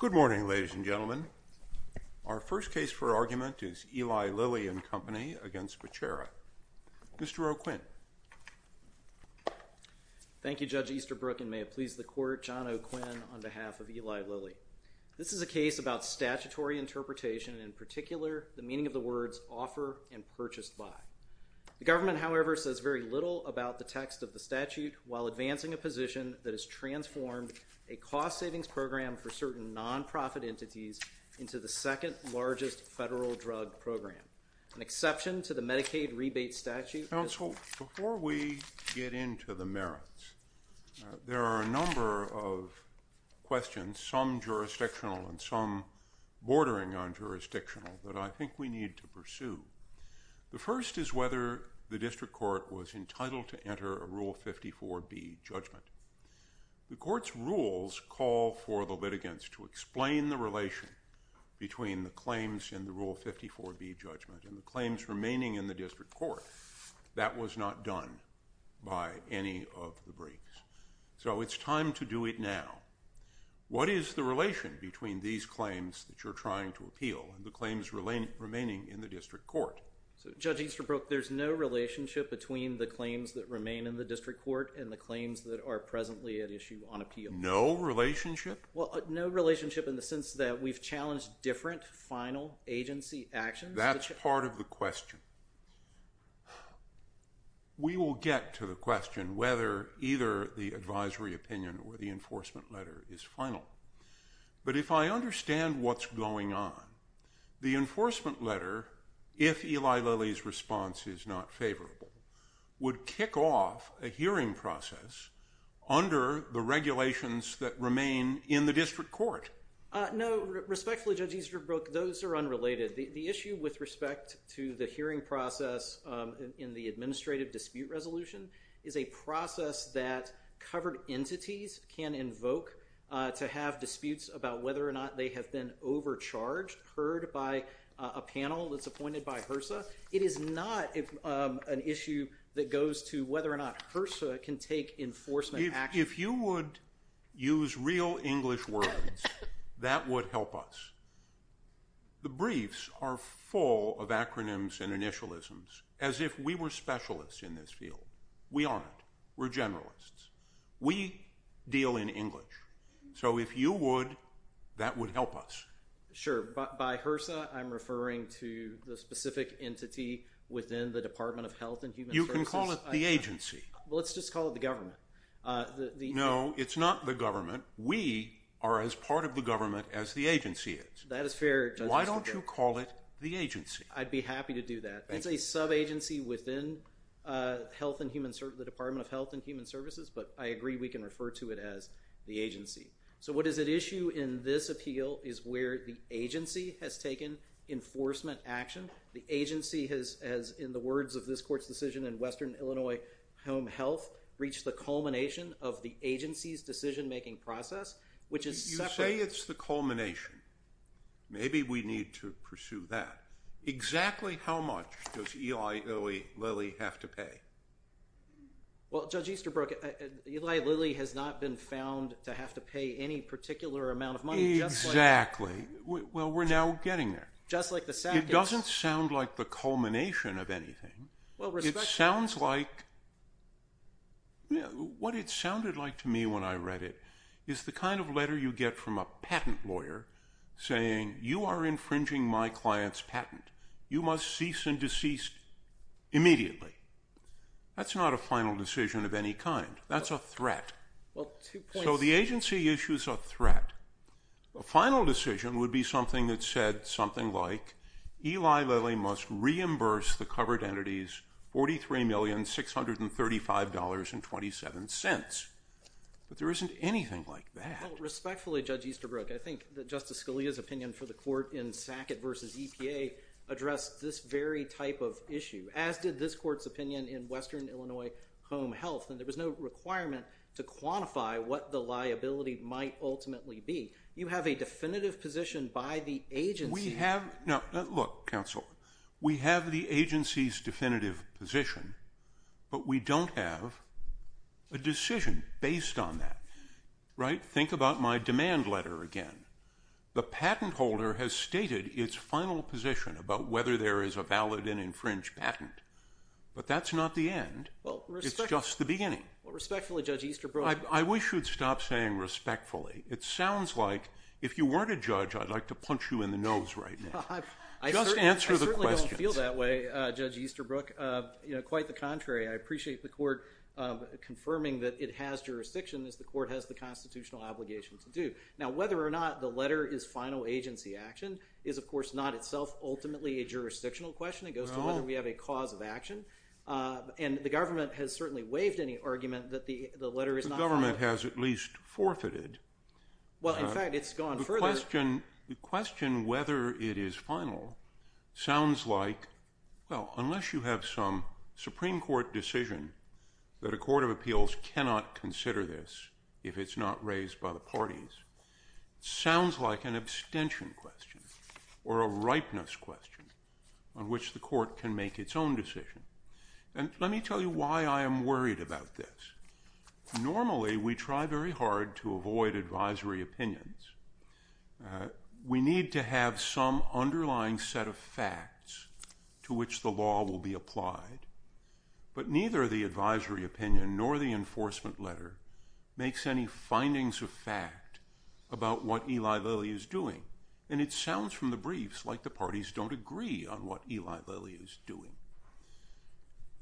Good morning, ladies and gentlemen. Our first case for argument is Eli Lilly and Company v. Becerra. Mr. O'Quinn. Thank you, Judge Easterbrook, and may it please the Court, John O'Quinn on behalf of Eli Lilly. This is a case about statutory interpretation, and in particular, the meaning of the words offer and purchased by. The government, however, says very little about the text of the statute while advancing a position that has transformed a cost-savings program for certain non-profit entities into the second-largest federal drug program. An exception to the Medicaid rebate statute is— Counsel, before we get into the merits, there are a number of questions, some jurisdictional and some bordering on jurisdictional, that I think we need to pursue. The first is whether the district court was entitled to enter a Rule 54B judgment. The Court's rules call for the litigants to explain the relation between the claims in the Rule 54B judgment and the claims remaining in the district court. That was not done by any of the briefs, so it's time to do it now. What is the relation between these claims that you're trying to appeal and the claims remaining in the district court? Judge Easterbrook, there's no relationship between the claims that remain in the district court and the claims that are presently at issue on appeal. No relationship? No relationship in the sense that we've challenged different final agency actions. That's part of the question. We will get to the question whether either the advisory opinion or the enforcement letter is final. But if I understand what's going on, the enforcement letter, if Eli Lilly's response is not favorable, would kick off a hearing process under the regulations that remain in the district court. No, respectfully, Judge Easterbrook, those are unrelated. The issue with respect to the hearing process in the administrative dispute resolution is a process that covered entities can invoke to have disputes about whether or not they have been overcharged, heard by a panel that's appointed by HRSA. It is not an issue that goes to whether or not HRSA can take enforcement action. If you would use real English words, that would help us. The briefs are full of acronyms and initialisms as if we were specialists in this field. We aren't. We're generalists. We deal in English. So if you would, that would help us. Sure. By HRSA, I'm referring to the specific entity within the Department of Health and Human Services. You can call it the agency. Let's just call it the government. No, it's not the government. We are as part of the government as the agency is. That is fair, Judge Easterbrook. Why don't you call it the agency? I'd be happy to do that. It's a sub-agency within the Department of Health and Human Services, but I agree we can refer to it as the agency. So what is at issue in this appeal is where the agency has taken enforcement action. The agency has, in the words of this court's decision in Western Illinois Home Health, reached the culmination of the agency's decision-making process, which is separate. You say it's the culmination. Maybe we need to pursue that. Exactly how much does Eli Lilly have to pay? Well, Judge Easterbrook, Eli Lilly has not been found to have to pay any particular amount of money. Exactly. Well, we're now getting there. It doesn't sound like the culmination of anything. What it sounded like to me when I read it is the kind of letter you get from a patent lawyer saying, you are infringing my client's patent. You must cease and desist immediately. That's not a final decision of any kind. That's a threat. So the agency issues a threat. A final decision would be something that said something like, Eli Lilly must reimburse the covered entities $43,635.27. But there isn't anything like that. Well, respectfully, Judge Easterbrook, I think that Justice Scalia's opinion for the court in Sackett v. EPA addressed this very type of issue, as did this court's opinion in Western Illinois Home Health. And there was no requirement to quantify what the liability might ultimately be. You have a definitive position by the agency. Look, counsel, we have the agency's definitive position, but we don't have a decision based on that. Think about my demand letter again. The patent holder has stated its final position about whether there is a valid and infringed patent. But that's not the end. It's just the beginning. Respectfully, Judge Easterbrook. I wish you'd stop saying respectfully. It sounds like if you weren't a judge, I'd like to punch you in the nose right now. Just answer the question. I certainly don't feel that way, Judge Easterbrook. Quite the contrary. I appreciate the court confirming that it has jurisdiction, as the court has the constitutional obligation to do. Now, whether or not the letter is final agency action is, of course, not itself ultimately a jurisdictional question. It goes to whether we have a cause of action. And the government has certainly waived any argument that the letter is not final. The government has at least forfeited. Well, in fact, it's gone further. The question whether it is final sounds like, well, unless you have some Supreme Court decision that a court of appeals cannot consider this if it's not raised by the parties, it sounds like an abstention question or a ripeness question on which the court can make its own decision. And let me tell you why I am worried about this. Normally, we try very hard to avoid advisory opinions. We need to have some underlying set of facts to which the law will be applied. But neither the advisory opinion nor the enforcement letter makes any findings of fact about what Eli Lilly is doing. And it sounds from the briefs like the parties don't agree on what Eli Lilly is doing.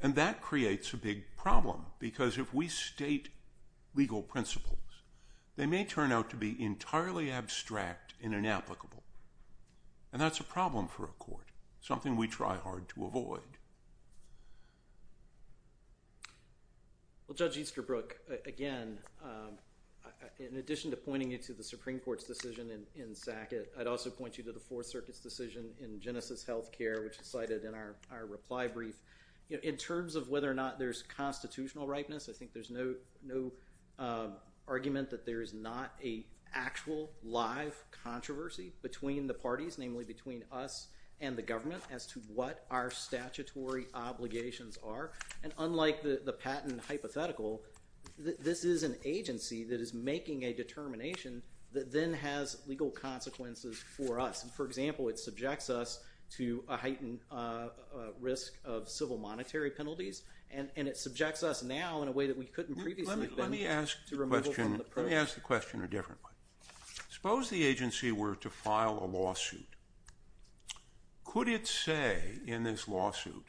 And that creates a big problem because if we state legal principles, they may turn out to be entirely abstract and inapplicable. And that's a problem for a court, something we try hard to avoid. Well, Judge Easterbrook, again, in addition to pointing you to the Supreme Court's decision in Sackett, I'd also point you to the Fourth Circuit's decision in Genesis Healthcare, which is cited in our reply brief. In terms of whether or not there's constitutional ripeness, I think there's no argument that there is not an actual live controversy between the parties, namely between us and the government as to what our statutory obligations are. And unlike the patent hypothetical, this is an agency that is making a determination that then has legal consequences for us. For example, it subjects us to a heightened risk of civil monetary penalties, and it subjects us now in a way that we couldn't previously have been able to remove from the program. Let me ask the question a different way. Suppose the agency were to file a lawsuit. Could it say in this lawsuit,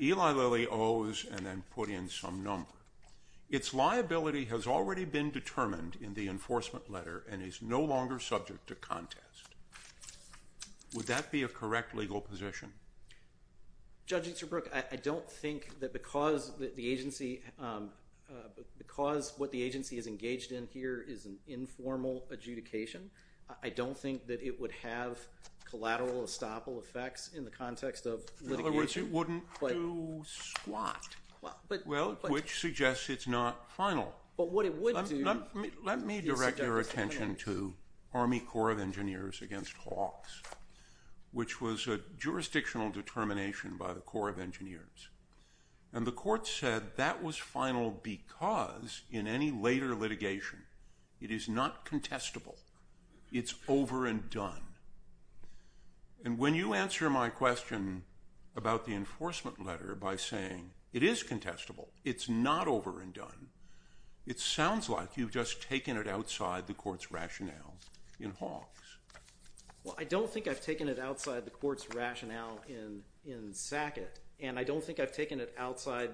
Eli Lilly owes and then put in some number. Its liability has already been determined in the enforcement letter and is no longer subject to contest. Would that be a correct legal position? Judge Easterbrook, I don't think that because what the agency is engaged in here is an informal adjudication, I don't think that it would have collateral estoppel effects in the context of litigation. In other words, it wouldn't do squat, which suggests it's not final. Let me direct your attention to Army Corps of Engineers against Hawks, which was a jurisdictional determination by the Corps of Engineers. And the court said that was final because in any later litigation, it is not contestable. It's over and done. And when you answer my question about the enforcement letter by saying it is contestable, it's not over and done, it sounds like you've just taken it outside the court's rationale in Hawks. Well, I don't think I've taken it outside the court's rationale in Sackett, and I don't think I've taken it outside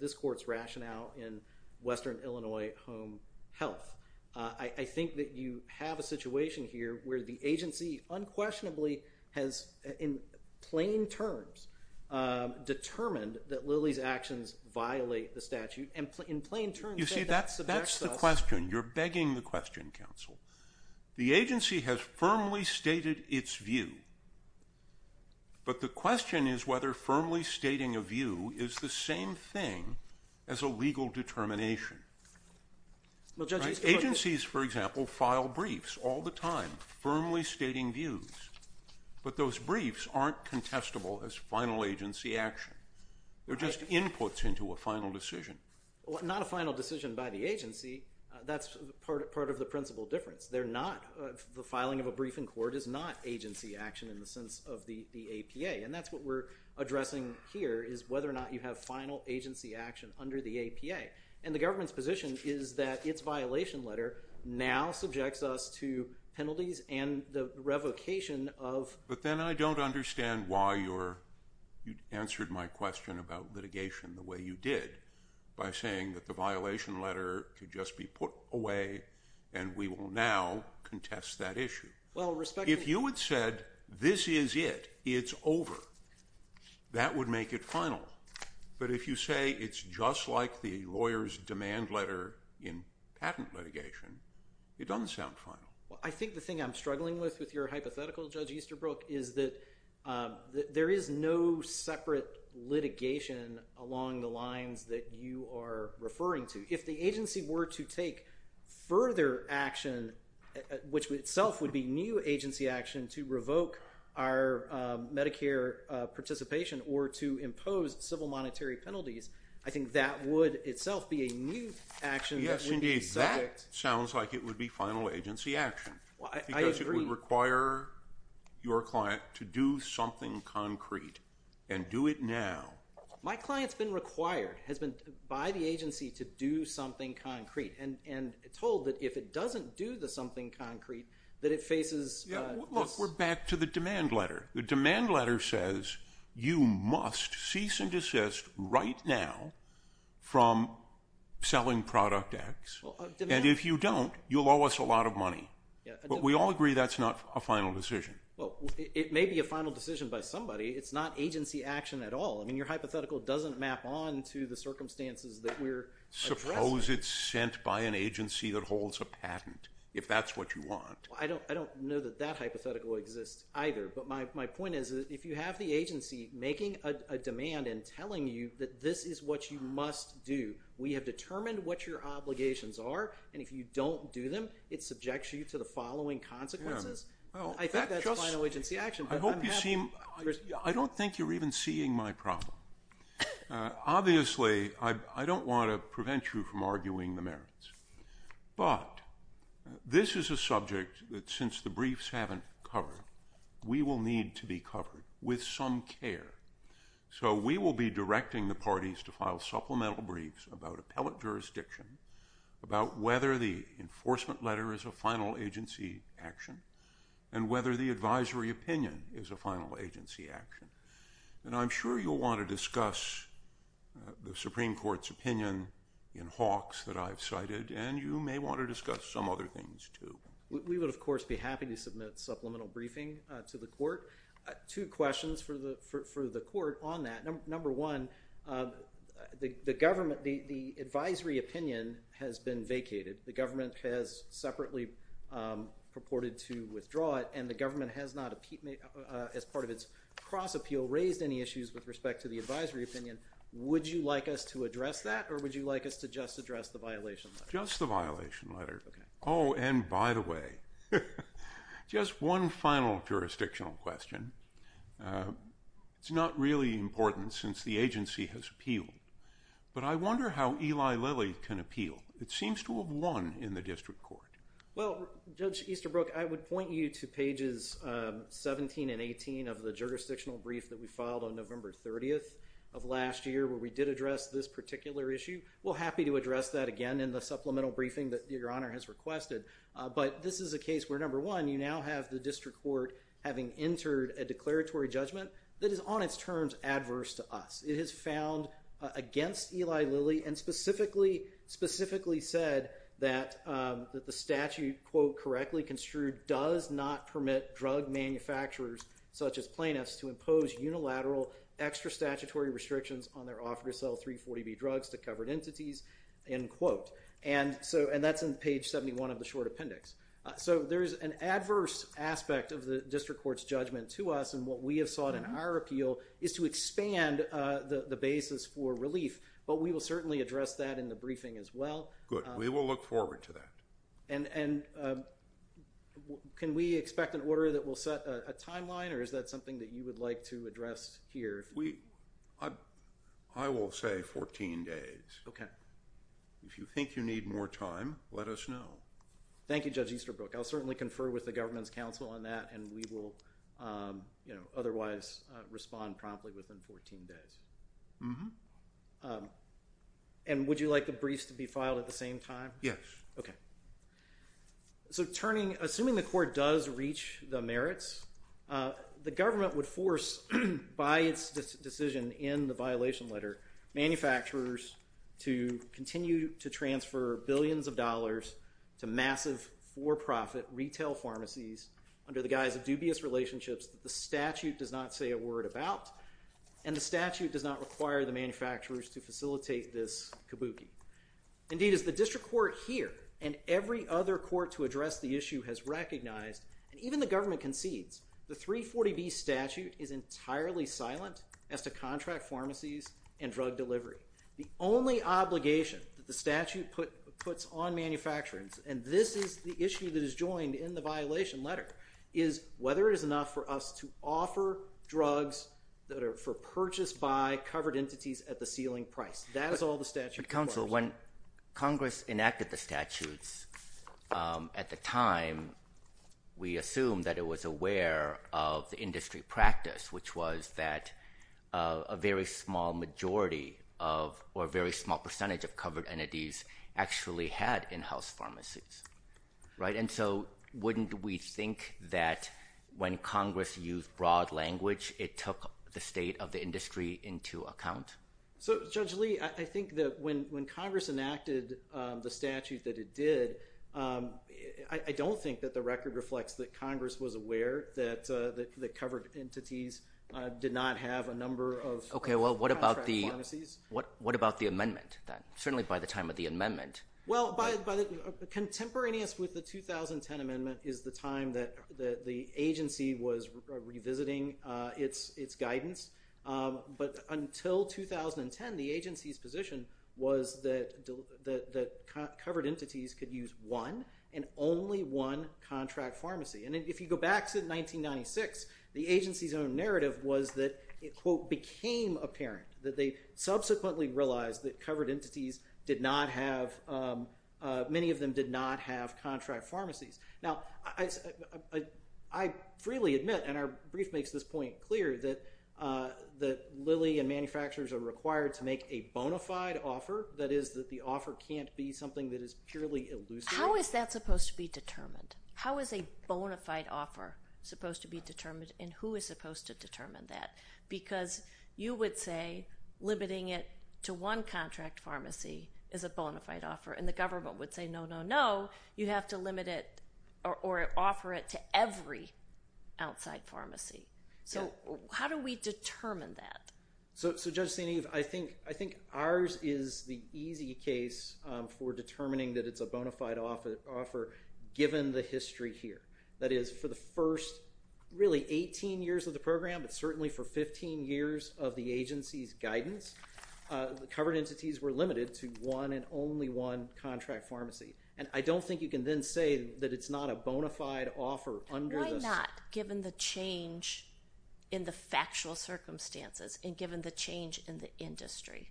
this court's rationale in Western Illinois Home Health. I think that you have a situation here where the agency unquestionably has, in plain terms, determined that Lilly's actions violate the statute. You see, that's the question. You're begging the question, counsel. The agency has firmly stated its view, but the question is whether firmly stating a view is the same thing as a legal determination. Agencies, for example, file briefs all the time firmly stating views, but those briefs aren't contestable as final agency action. They're just inputs into a final decision. Well, not a final decision by the agency. That's part of the principal difference. The filing of a brief in court is not agency action in the sense of the APA, and that's what we're addressing here is whether or not you have final agency action under the APA. And the government's position is that its violation letter now subjects us to penalties and the revocation of- But then I don't understand why you answered my question about litigation the way you did, by saying that the violation letter could just be put away and we will now contest that issue. If you had said, this is it, it's over, that would make it final. But if you say it's just like the lawyer's demand letter in patent litigation, it doesn't sound final. Well, I think the thing I'm struggling with with your hypothetical, Judge Easterbrook, is that there is no separate litigation along the lines that you are referring to. If the agency were to take further action, which itself would be new agency action, to revoke our Medicare participation or to impose civil monetary penalties, I think that would itself be a new action that would be subject- Because it would require your client to do something concrete and do it now. My client's been required by the agency to do something concrete and told that if it doesn't do the something concrete that it faces- Look, we're back to the demand letter. The demand letter says you must cease and desist right now from selling Product X. And if you don't, you'll owe us a lot of money. But we all agree that's not a final decision. Well, it may be a final decision by somebody. It's not agency action at all. I mean, your hypothetical doesn't map on to the circumstances that we're addressing. Suppose it's sent by an agency that holds a patent, if that's what you want. I don't know that that hypothetical exists either. But my point is, if you have the agency making a demand and telling you that this is what you must do, we have determined what your obligations are, and if you don't do them, it subjects you to the following consequences. I think that's final agency action. I don't think you're even seeing my problem. Obviously, I don't want to prevent you from arguing the merits. But this is a subject that since the briefs haven't covered, we will need to be covered with some care. So we will be directing the parties to file supplemental briefs about appellate jurisdiction, about whether the enforcement letter is a final agency action, and whether the advisory opinion is a final agency action. And I'm sure you'll want to discuss the Supreme Court's opinion in Hawks that I've cited, and you may want to discuss some other things too. We would, of course, be happy to submit supplemental briefing to the Court. Two questions for the Court on that. Number one, the advisory opinion has been vacated. The government has separately purported to withdraw it, and the government has not, as part of its cross-appeal, raised any issues with respect to the advisory opinion. Would you like us to address that, or would you like us to just address the violation letter? Just the violation letter. Oh, and by the way, just one final jurisdictional question. It's not really important since the agency has appealed, but I wonder how Eli Lilly can appeal. It seems to have won in the district court. Well, Judge Easterbrook, I would point you to pages 17 and 18 of the jurisdictional brief that we filed on November 30th of last year, where we did address this particular issue. We're happy to address that again in the supplemental briefing that Your Honor has requested. But this is a case where, number one, you now have the district court having entered a declaratory judgment that is on its terms adverse to us. It is found against Eli Lilly and specifically said that the statute, quote, does not permit drug manufacturers such as plaintiffs to impose unilateral extra statutory restrictions on their offer to sell 340B drugs to covered entities, end quote. And that's in page 71 of the short appendix. So there is an adverse aspect of the district court's judgment to us, and what we have sought in our appeal is to expand the basis for relief. But we will certainly address that in the briefing as well. Good. We will look forward to that. And can we expect an order that will set a timeline, or is that something that you would like to address here? I will say 14 days. OK. If you think you need more time, let us know. Thank you, Judge Easterbrook. I'll certainly confer with the government's counsel on that, and we will, you know, otherwise respond promptly within 14 days. Mm-hmm. And would you like the briefs to be filed at the same time? Yes. OK. So assuming the court does reach the merits, the government would force, by its decision in the violation letter, manufacturers to continue to transfer billions of dollars to massive for-profit retail pharmacies under the guise of dubious relationships that the statute does not say a word about, and the statute does not require the manufacturers to facilitate this kabuki. Indeed, as the district court here and every other court to address the issue has recognized, and even the government concedes, the 340B statute is entirely silent as to contract pharmacies and drug delivery. The only obligation that the statute puts on manufacturers, and this is the issue that is joined in the violation letter, is whether it is enough for us to offer drugs that are for purchase by covered entities at the ceiling price. That is all the statute requires. But, counsel, when Congress enacted the statutes at the time, we assumed that it was aware of the industry practice, which was that a very small majority of or a very small percentage of covered entities actually had in-house pharmacies. Right? And so wouldn't we think that when Congress used broad language, it took the state of the industry into account? So, Judge Lee, I think that when Congress enacted the statute that it did, I don't think that the record reflects that Congress was aware that covered entities did not have a number of contract pharmacies. Okay. Well, what about the amendment then, certainly by the time of the amendment? Well, contemporaneous with the 2010 amendment is the time that the agency was revisiting its guidance. But until 2010, the agency's position was that covered entities could use one and only one contract pharmacy. And if you go back to 1996, the agency's own narrative was that it, quote, became apparent that they subsequently realized that covered entities did not have, many of them did not have contract pharmacies. Now, I freely admit, and our brief makes this point clear, that Lilly and manufacturers are required to make a bona fide offer. That is that the offer can't be something that is purely elusive. How is that supposed to be determined? How is a bona fide offer supposed to be determined, and who is supposed to determine that? Because you would say limiting it to one contract pharmacy is a bona fide offer, and the government would say, no, no, no. You have to limit it or offer it to every outside pharmacy. So how do we determine that? So, Judge St. Eve, I think ours is the easy case for determining that it's a bona fide offer, given the history here. That is, for the first, really, 18 years of the program, but certainly for 15 years of the agency's guidance, the covered entities were limited to one and only one contract pharmacy. And I don't think you can then say that it's not a bona fide offer under the— Why not, given the change in the factual circumstances and given the change in the industry?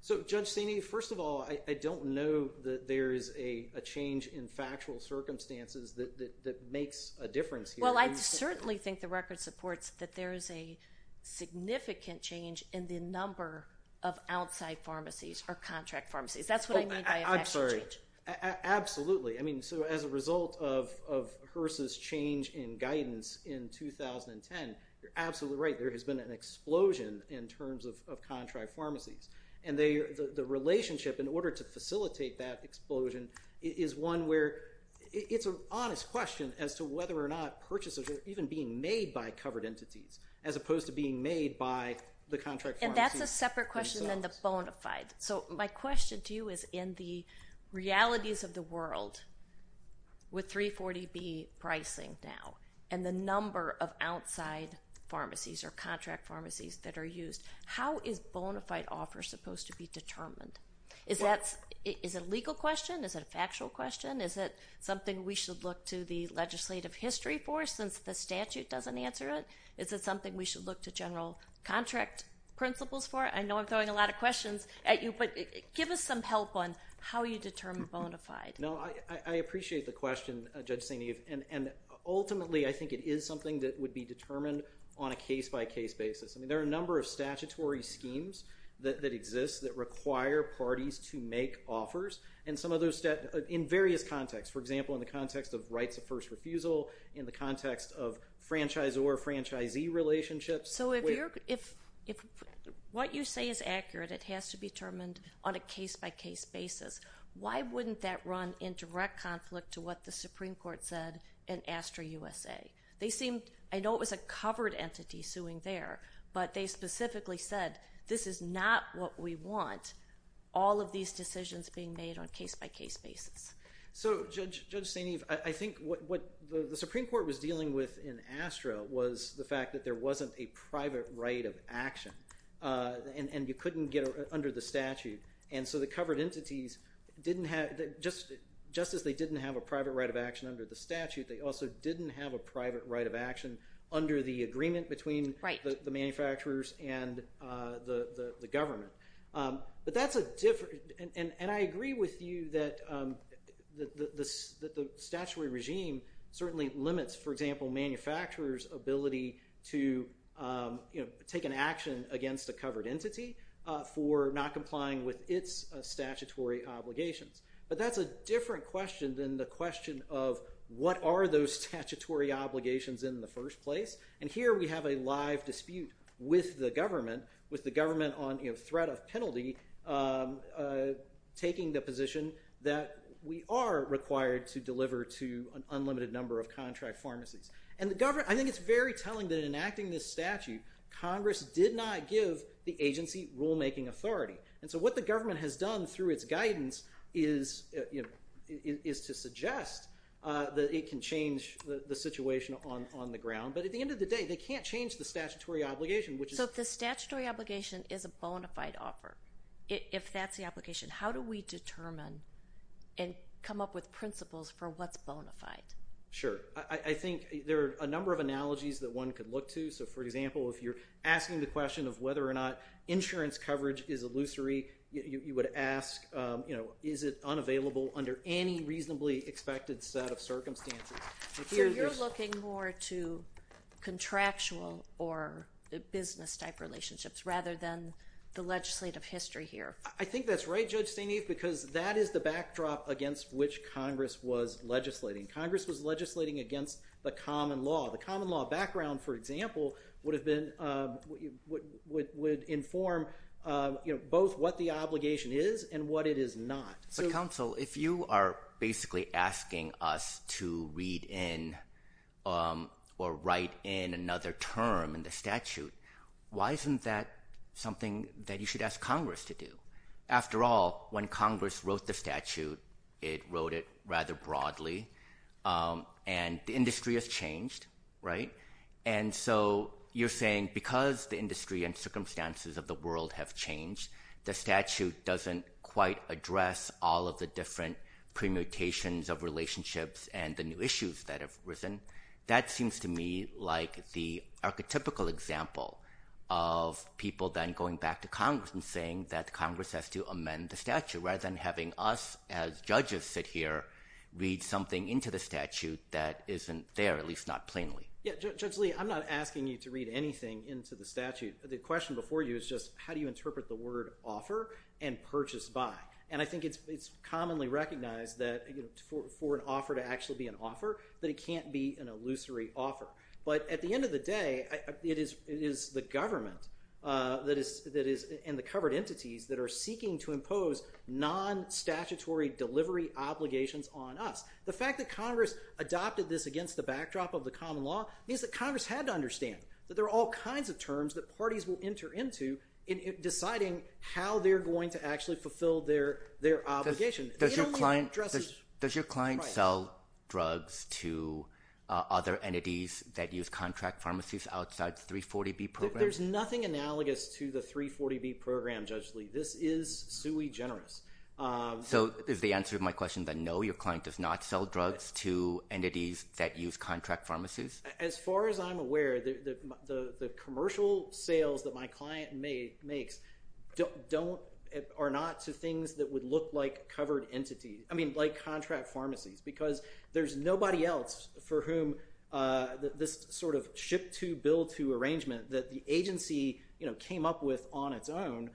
So, Judge St. Eve, first of all, I don't know that there is a change in factual circumstances that makes a difference here. Well, I certainly think the record supports that there is a significant change in the number of outside pharmacies or contract pharmacies. That's what I mean by a factual change. Absolutely. I mean, so as a result of HRSA's change in guidance in 2010, you're absolutely right. There has been an explosion in terms of contract pharmacies. And the relationship in order to facilitate that explosion is one where it's an honest question as to whether or not purchases are even being made by covered entities, as opposed to being made by the contract pharmacies themselves. And that's a separate question than the bona fide. So my question to you is in the realities of the world with 340B pricing now and the number of outside pharmacies or contract pharmacies that are used, how is bona fide offer supposed to be determined? Is it a legal question? Is it a factual question? Is it something we should look to the legislative history for since the statute doesn't answer it? Is it something we should look to general contract principles for? I know I'm throwing a lot of questions at you, but give us some help on how you determine bona fide. No, I appreciate the question, Judge St. Eve. And ultimately, I think it is something that would be determined on a case-by-case basis. I mean, there are a number of statutory schemes that exist that require parties to make offers, and some of those in various contexts. For example, in the context of rights of first refusal, in the context of franchisor-franchisee relationships. So if what you say is accurate, it has to be determined on a case-by-case basis, why wouldn't that run in direct conflict to what the Supreme Court said in Astra USA? They seemed – I know it was a covered entity suing there, but they specifically said, this is not what we want, all of these decisions being made on a case-by-case basis. So, Judge St. Eve, I think what the Supreme Court was dealing with in Astra was the fact that there wasn't a private right of action, and you couldn't get it under the statute. And so the covered entities didn't have – just as they didn't have a private right of action under the statute, they also didn't have a private right of action under the agreement between the manufacturers and the government. But that's a different – and I agree with you that the statutory regime certainly limits, for example, manufacturers' ability to take an action against a covered entity for not complying with its statutory obligations. But that's a different question than the question of what are those statutory obligations in the first place, and here we have a live dispute with the government, with the government on threat of penalty, taking the position that we are required to deliver to an unlimited number of contract pharmacies. And I think it's very telling that in enacting this statute, Congress did not give the agency rulemaking authority. And so what the government has done through its guidance is to suggest that it can change the situation on the ground. But at the end of the day, they can't change the statutory obligation, which is – So if the statutory obligation is a bona fide offer, if that's the application, how do we determine and come up with principles for what's bona fide? Sure. I think there are a number of analogies that one could look to. So, for example, if you're asking the question of whether or not insurance coverage is illusory, you would ask is it unavailable under any reasonably expected set of circumstances. So you're looking more to contractual or business-type relationships rather than the legislative history here. I think that's right, Judge St. Eve, because that is the backdrop against which Congress was legislating. Congress was legislating against the common law. The common law background, for example, would inform both what the obligation is and what it is not. But, counsel, if you are basically asking us to read in or write in another term in the statute, why isn't that something that you should ask Congress to do? After all, when Congress wrote the statute, it wrote it rather broadly, and the industry has changed, right? And so you're saying because the industry and circumstances of the world have changed, the statute doesn't quite address all of the different permutations of relationships and the new issues that have arisen. That seems to me like the archetypical example of people then going back to Congress and saying that Congress has to amend the statute rather than having us as judges sit here, read something into the statute that isn't there, at least not plainly. Judge Lee, I'm not asking you to read anything into the statute. The question before you is just how do you interpret the word offer and purchase by? And I think it's commonly recognized that for an offer to actually be an offer, that it can't be an illusory offer. But at the end of the day, it is the government and the covered entities that are seeking to impose non-statutory delivery obligations on us. The fact that Congress adopted this against the backdrop of the common law means that Congress had to understand that there are all kinds of terms that parties will enter into in deciding how they're going to actually fulfill their obligation. Does your client sell drugs to other entities that use contract pharmacies outside the 340B program? There's nothing analogous to the 340B program, Judge Lee. This is sui generis. So is the answer to my question that no, your client does not sell drugs to entities that use contract pharmacies? As far as I'm aware, the commercial sales that my client makes are not to things that would look like covered entities, I mean like contract pharmacies, because there's nobody else for whom this sort of ship-to, bill-to arrangement that the agency came up with on its own,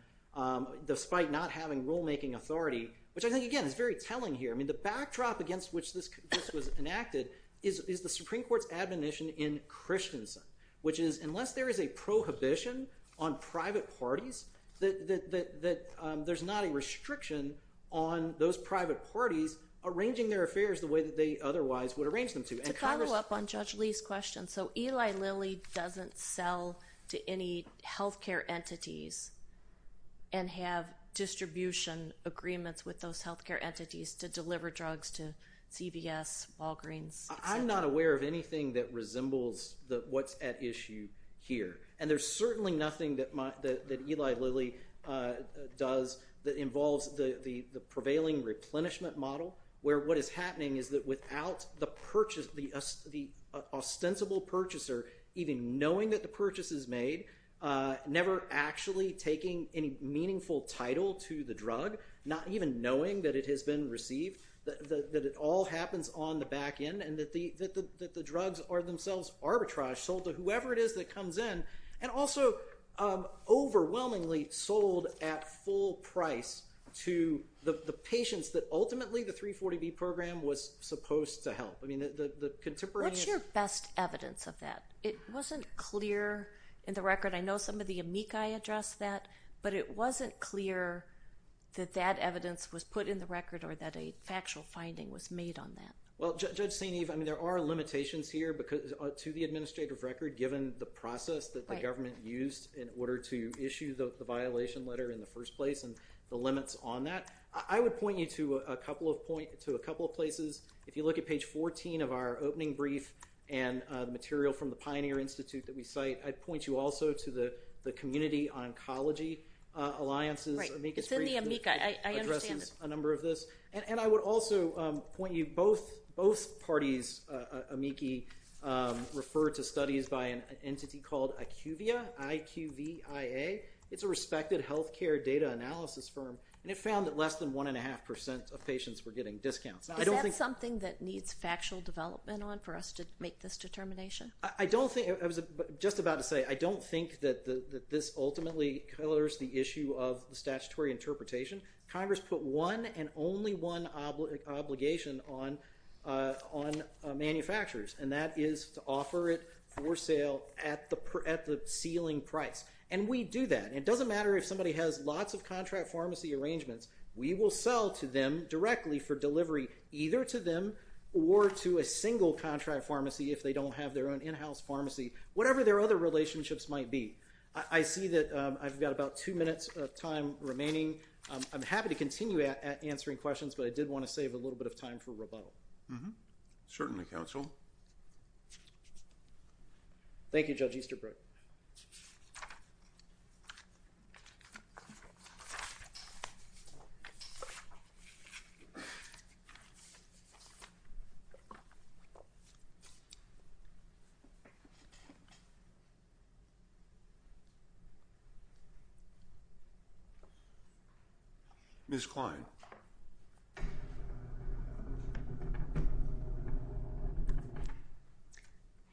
despite not having rulemaking authority, which I think, again, is very telling here. I mean the backdrop against which this was enacted is the Supreme Court's admonition in Christensen, which is unless there is a prohibition on private parties, that there's not a restriction on those private parties arranging their affairs the way that they otherwise would arrange them to. To follow up on Judge Lee's question, so Eli Lilly doesn't sell to any health care entities and have distribution agreements with those health care entities to deliver drugs to CVS, Walgreens, et cetera? I'm not aware of anything that resembles what's at issue here. And there's certainly nothing that Eli Lilly does that involves the prevailing replenishment model, where what is happening is that without the ostensible purchaser even knowing that the purchase is made, never actually taking any meaningful title to the drug, not even knowing that it has been received, that it all happens on the back end, and that the drugs are themselves arbitrage sold to whoever it is that comes in, and also overwhelmingly sold at full price to the patients that ultimately the 340B program was supposed to help. I mean the contemporaneous— What's your best evidence of that? It wasn't clear in the record. I know some of the amici addressed that, but it wasn't clear that that evidence was put in the record or that a factual finding was made on that. Well, Judge St. Eve, I mean there are limitations here to the administrative record given the process that the government used in order to issue the violation letter in the first place and the limits on that. I would point you to a couple of places. If you look at page 14 of our opening brief and material from the Pioneer Institute that we cite, I'd point you also to the Community Oncology Alliance's amicus brief. Right. It's in the amica. I understand it. It addresses a number of this. And I would also point you, both parties, amici, refer to studies by an entity called IQVIA, I-Q-V-I-A. It's a respected healthcare data analysis firm, and it found that less than 1.5% of patients were getting discounts. Is that something that needs factual development on for us to make this determination? I was just about to say, I don't think that this ultimately colors the issue of statutory interpretation. Congress put one and only one obligation on manufacturers, and that is to offer it for sale at the ceiling price. And we do that. It doesn't matter if somebody has lots of contract pharmacy arrangements. We will sell to them directly for delivery, either to them or to a single contract pharmacy, if they don't have their own in-house pharmacy, whatever their other relationships might be. I see that I've got about two minutes of time remaining. I'm happy to continue answering questions, but I did want to save a little bit of time for rebuttal. Certainly, counsel. Thank you, Judge Easterbrook. Ms. Kline.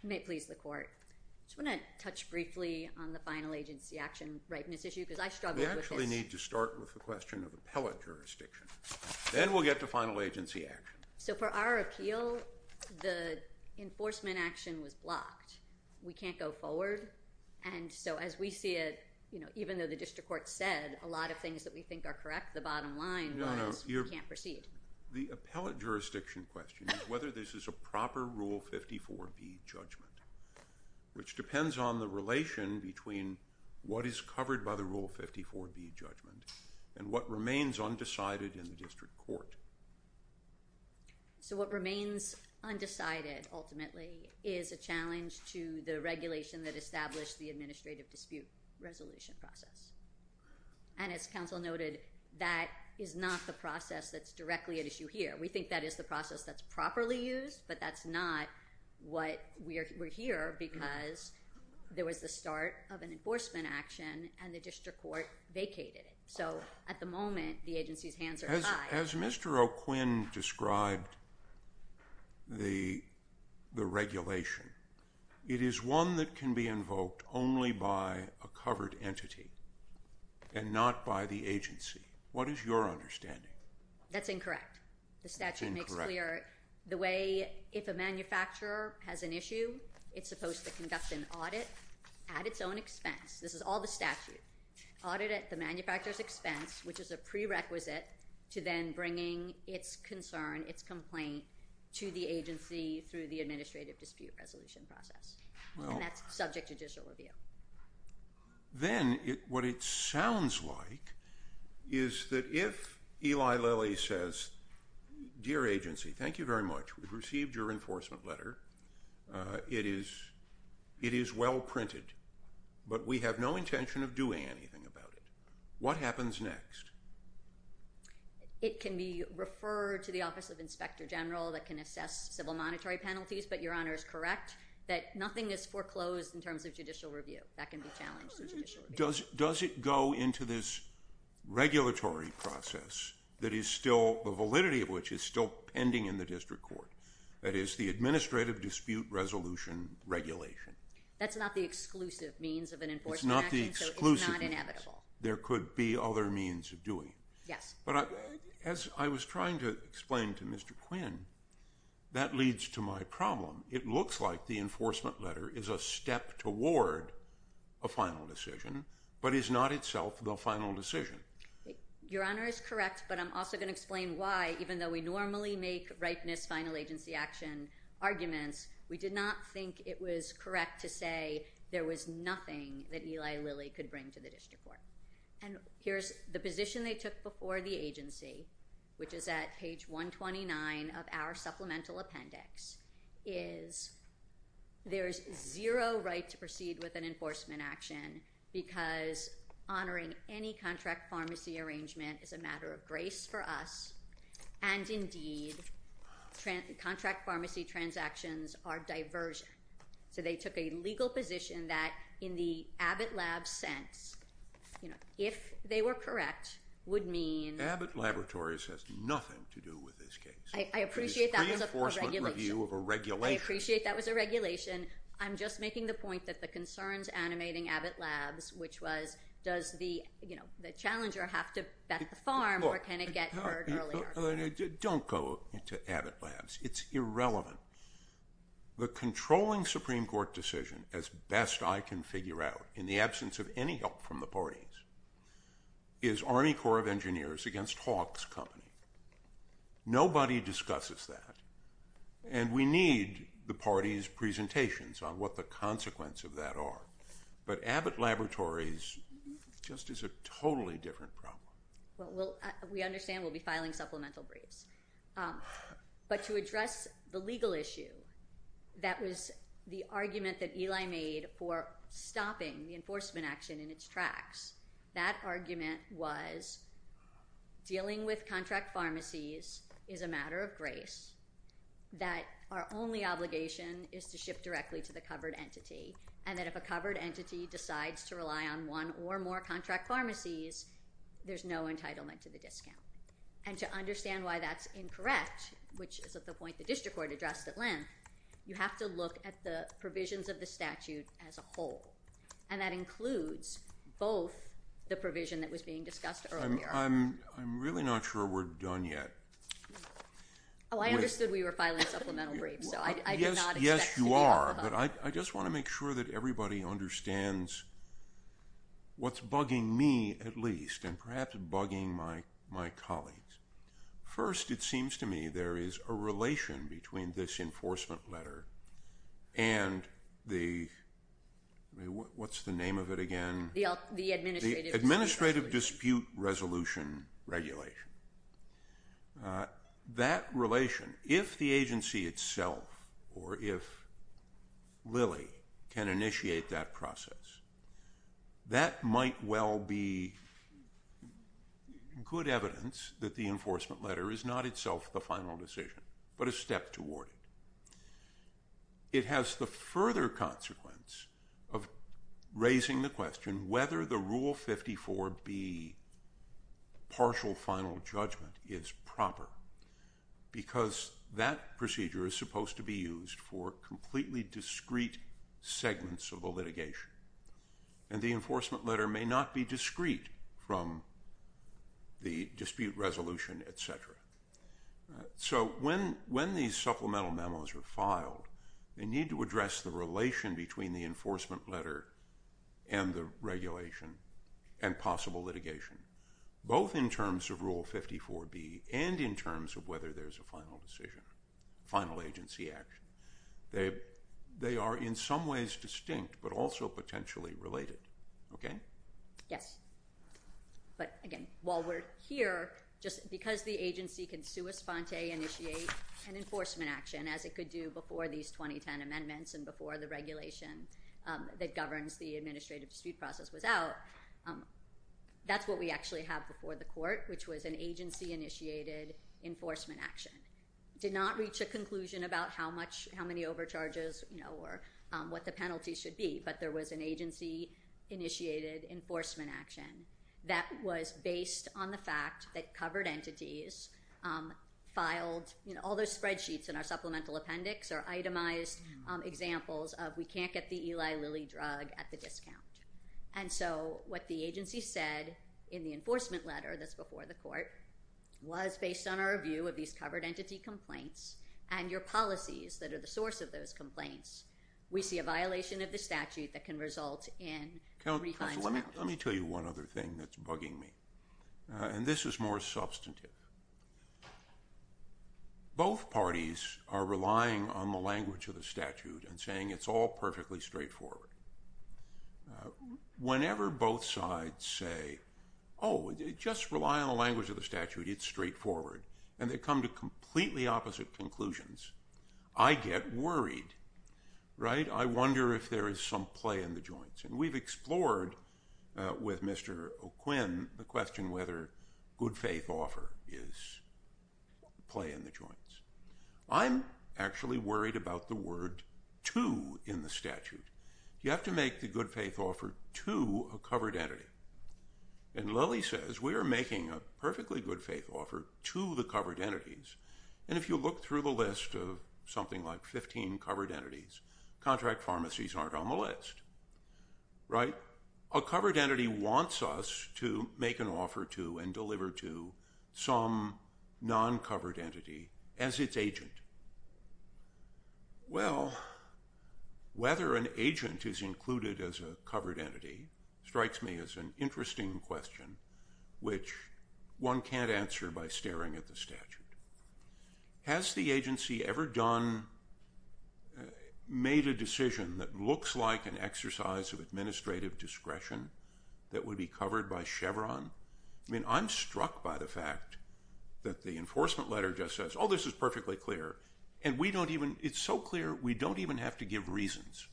You may please the court. I just want to touch briefly on the final agency action rightness issue because I struggled with this. We actually need to start with the question of appellate jurisdiction. Then we'll get to final agency action. So for our appeal, the enforcement action was blocked. We can't go forward, and so as we see it, even though the district court said a lot of things that we think are correct, the bottom line was we can't proceed. The appellate jurisdiction question is whether this is a proper Rule 54B judgment, which depends on the relation between what is covered by the Rule 54B judgment and what remains undecided in the district court. So what remains undecided, ultimately, is a challenge to the regulation that established the administrative dispute resolution process. And as counsel noted, that is not the process that's directly at issue here. We think that is the process that's properly used, but that's not what we're here because there was the start of an enforcement action and the district court vacated it. So at the moment, the agency's hands are tied. As Mr. O'Quinn described the regulation, it is one that can be invoked only by a covered entity and not by the agency. What is your understanding? That's incorrect. The statute makes clear the way if a manufacturer has an issue, it's supposed to conduct an audit at its own expense. This is all the statute. Audit at the manufacturer's expense, which is a prerequisite to then bringing its concern, its complaint to the agency through the administrative dispute resolution process. And that's subject to judicial review. Then what it sounds like is that if Eli Lilly says, Dear agency, thank you very much. We've received your enforcement letter. It is well printed, but we have no intention of doing anything about it. What happens next? It can be referred to the Office of Inspector General that can assess civil monetary penalties, but Your Honor is correct that nothing is foreclosed in terms of judicial review. That can be challenged through judicial review. Does it go into this regulatory process that is still, the validity of which is still pending in the district court, that is the administrative dispute resolution regulation? That's not the exclusive means of an enforcement action. It's not the exclusive means. So it's not inevitable. There could be other means of doing. Yes. But as I was trying to explain to Mr. Quinn, that leads to my problem. It looks like the enforcement letter is a step toward a final decision, but is not itself the final decision. Your Honor is correct, but I'm also going to explain why, even though we normally make rightness final agency action arguments, we did not think it was correct to say there was nothing that Eli Lilly could bring to the district court. And here's the position they took before the agency, which is at page 129 of our supplemental appendix, is there is zero right to proceed with an enforcement action because honoring any contract pharmacy arrangement is a matter of grace for us, and indeed contract pharmacy transactions are diversion. So they took a legal position that in the Abbott Labs sense, if they were correct, would mean- Abbott Laboratories has nothing to do with this case. I appreciate that was a regulation. It's a reinforcement review of a regulation. I appreciate that was a regulation. I'm just making the point that the concerns animating Abbott Labs, which was does the challenger have to bet the farm or can it get heard earlier? Don't go into Abbott Labs. It's irrelevant. The controlling Supreme Court decision, as best I can figure out, in the absence of any help from the parties, is Army Corps of Engineers against Hawk's Company. Nobody discusses that, and we need the parties' presentations on what the consequences of that are. But Abbott Laboratories just is a totally different problem. Well, we understand we'll be filing supplemental briefs. But to address the legal issue that was the argument that Eli made for stopping the enforcement action in its tracks, that argument was dealing with contract pharmacies is a matter of grace, that our only obligation is to ship directly to the covered entity, and that if a covered entity decides to rely on one or more contract pharmacies, there's no entitlement to the discount. And to understand why that's incorrect, which is at the point the district court addressed at length, you have to look at the provisions of the statute as a whole, and that includes both the provision that was being discussed earlier. I'm really not sure we're done yet. Oh, I understood we were filing supplemental briefs. Yes, you are, but I just want to make sure that everybody understands what's bugging me at least and perhaps bugging my colleagues. First, it seems to me there is a relation between this enforcement letter and the what's the name of it again? The Administrative Dispute Resolution. The Administrative Dispute Resolution regulation. That relation, if the agency itself or if Lilly can initiate that process, that might well be good evidence that the enforcement letter is not itself the final decision, but a step toward it. It has the further consequence of raising the question whether the Rule 54B partial final judgment is proper because that procedure is supposed to be used for completely discreet segments of the litigation, and the enforcement letter may not be discreet from the dispute resolution, et cetera. So when these supplemental memos are filed, they need to address the relation between the enforcement letter and the regulation and possible litigation, both in terms of Rule 54B and in terms of whether there's a final decision, final agency action. They are in some ways distinct but also potentially related. Yes. But again, while we're here, just because the agency can sua sponte initiate an enforcement action, as it could do before these 2010 amendments and before the regulation that governs the administrative dispute process was out, that's what we actually have before the court, which was an agency-initiated enforcement action. It did not reach a conclusion about how many overcharges or what the penalty should be, but there was an agency-initiated enforcement action that was based on the fact that covered entities filed all those spreadsheets in our supplemental appendix or itemized examples of we can't get the Eli Lilly drug at the discount. And so what the agency said in the enforcement letter that's before the court was based on our view of these covered entity complaints and your policies that are the source of those complaints, we see a violation of the statute that can result in three times penalty. Counsel, let me tell you one other thing that's bugging me, and this is more substantive. Both parties are relying on the language of the statute and saying it's all perfectly straightforward. Whenever both sides say, oh, just rely on the language of the statute, it's straightforward, and they come to completely opposite conclusions, I get worried, right? I wonder if there is some play in the joints. And we've explored with Mr. O'Quinn the question whether good faith offer is play in the joints. I'm actually worried about the word to in the statute. You have to make the good faith offer to a covered entity. And Lilly says we are making a perfectly good faith offer to the covered entities, and if you look through the list of something like 15 covered entities, contract pharmacies aren't on the list, right? A covered entity wants us to make an offer to and deliver to some non-covered entity as its agent. Well, whether an agent is included as a covered entity strikes me as an interesting question, which one can't answer by staring at the statute. Has the agency ever made a decision that looks like an exercise of administrative discretion that would be covered by Chevron? I mean, I'm struck by the fact that the enforcement letter just says, oh, this is perfectly clear, and it's so clear we don't even have to give reasons,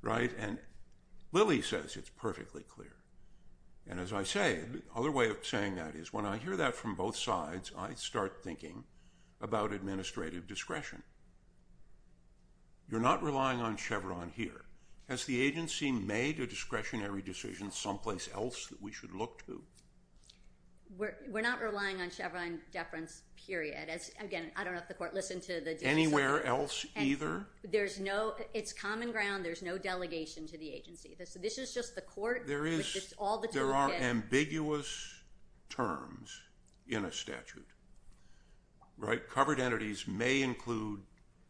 right? And Lilly says it's perfectly clear. And as I say, the other way of saying that is when I hear that from both sides, I start thinking about administrative discretion. You're not relying on Chevron here. Has the agency made a discretionary decision someplace else that we should look to? We're not relying on Chevron deference, period. Again, I don't know if the court listened to the details. Anywhere else either? It's common ground. There's no delegation to the agency. This is just the court. There are ambiguous terms in a statute, right?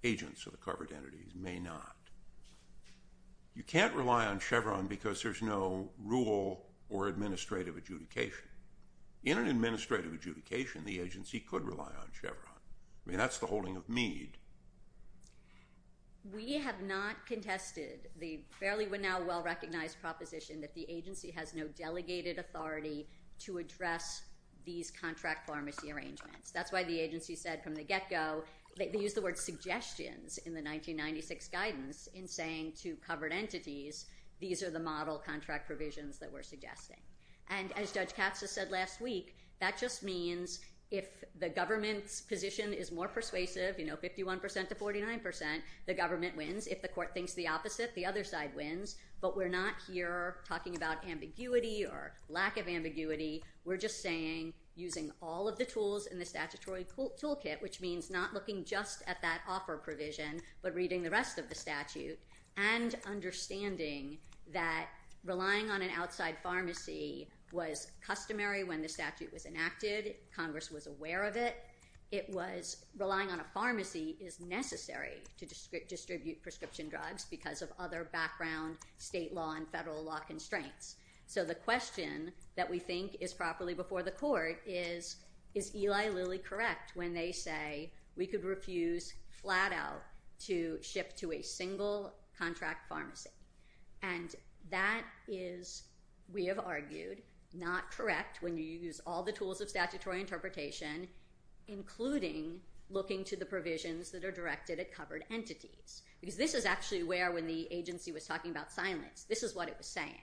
agents of the covered entities may not. You can't rely on Chevron because there's no rule or administrative adjudication. In an administrative adjudication, the agency could rely on Chevron. I mean, that's the holding of Meade. We have not contested the fairly well-recognized proposition that the agency has no delegated authority to address these contract pharmacy arrangements. That's why the agency said from the get-go, they used the word suggestions in the 1996 guidance in saying to covered entities, these are the model contract provisions that we're suggesting. And as Judge Katza said last week, that just means if the government's position is more persuasive, you know, 51% to 49%, the government wins. If the court thinks the opposite, the other side wins. But we're not here talking about ambiguity or lack of ambiguity. We're just saying using all of the tools in the statutory toolkit, which means not looking just at that offer provision but reading the rest of the statute and understanding that relying on an outside pharmacy was customary when the statute was enacted. Congress was aware of it. It was relying on a pharmacy is necessary to distribute prescription drugs because of other background state law and federal law constraints. So the question that we think is properly before the court is, is Eli Lilly correct when they say we could refuse flat out to ship to a single contract pharmacy? And that is, we have argued, not correct when you use all the tools of statutory interpretation, including looking to the provisions that are directed at covered entities. Because this is actually where when the agency was talking about silence, this is what it was saying.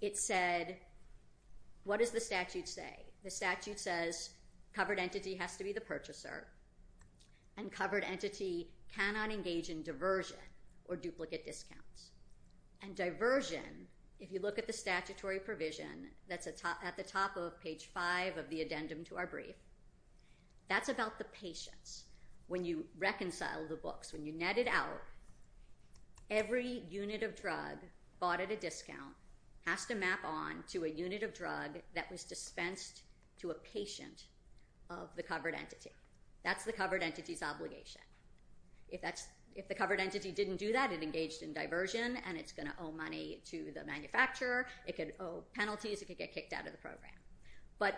It said, what does the statute say? The statute says covered entity has to be the purchaser, and covered entity cannot engage in diversion or duplicate discounts. And diversion, if you look at the statutory provision that's at the top of page 5 of the addendum to our brief, that's about the patients. When you reconcile the books, when you net it out, every unit of drug bought at a discount has to map on to a unit of drug that was dispensed to a patient of the covered entity. That's the covered entity's obligation. If the covered entity didn't do that, it engaged in diversion, and it's going to owe money to the manufacturer. It could owe penalties. It could get kicked out of the program. But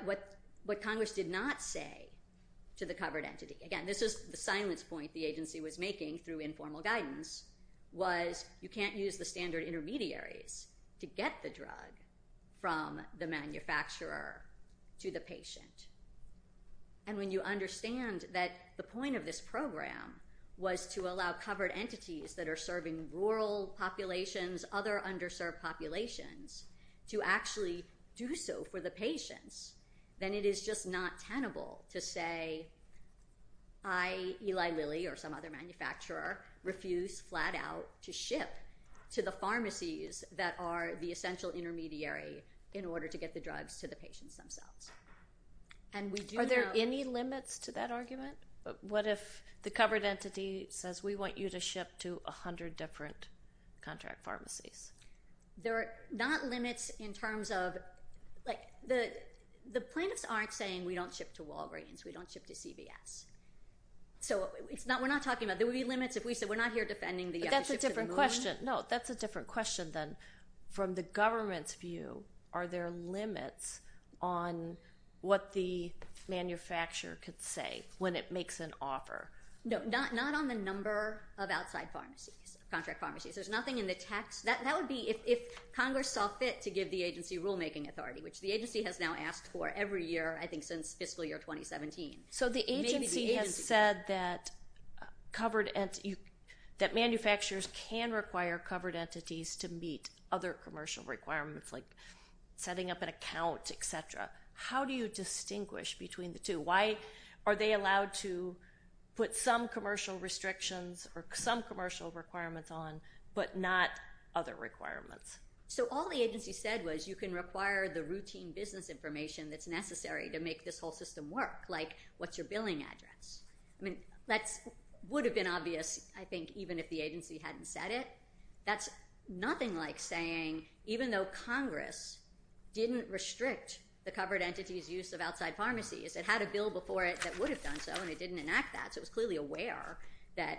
what Congress did not say to the covered entity, again, this is the silence point the agency was making through informal guidance, was you can't use the standard intermediaries to get the drug from the manufacturer to the patient. And when you understand that the point of this program was to allow covered entities that are serving rural populations, other underserved populations, to actually do so for the patients, then it is just not tenable to say, I, Eli Lilly, or some other manufacturer, refuse flat out to ship to the pharmacies that are the essential intermediary in order to get the drugs to the patients themselves. What if the covered entity says, we want you to ship to 100 different contract pharmacies? There are not limits in terms of, like, the plaintiffs aren't saying we don't ship to Walgreens. We don't ship to CVS. So we're not talking about, there would be limits if we said we're not here defending the ship to the moon. But that's a different question. No, that's a different question than from the government's view, are there limits on what the manufacturer could say when it makes an offer? No, not on the number of outside pharmacies, contract pharmacies. There's nothing in the tax. That would be if Congress saw fit to give the agency rulemaking authority, which the agency has now asked for every year, I think since fiscal year 2017. So the agency has said that manufacturers can require covered entities to meet other commercial requirements, like setting up an account, et cetera. How do you distinguish between the two? Why are they allowed to put some commercial restrictions or some commercial requirements on but not other requirements? So all the agency said was you can require the routine business information that's necessary to make this whole system work, like what's your billing address? I mean, that would have been obvious, I think, even if the agency hadn't said it. That's nothing like saying even though Congress didn't restrict the covered entities' use of outside pharmacies, it had a bill before it that would have done so, and it didn't enact that, so it was clearly aware that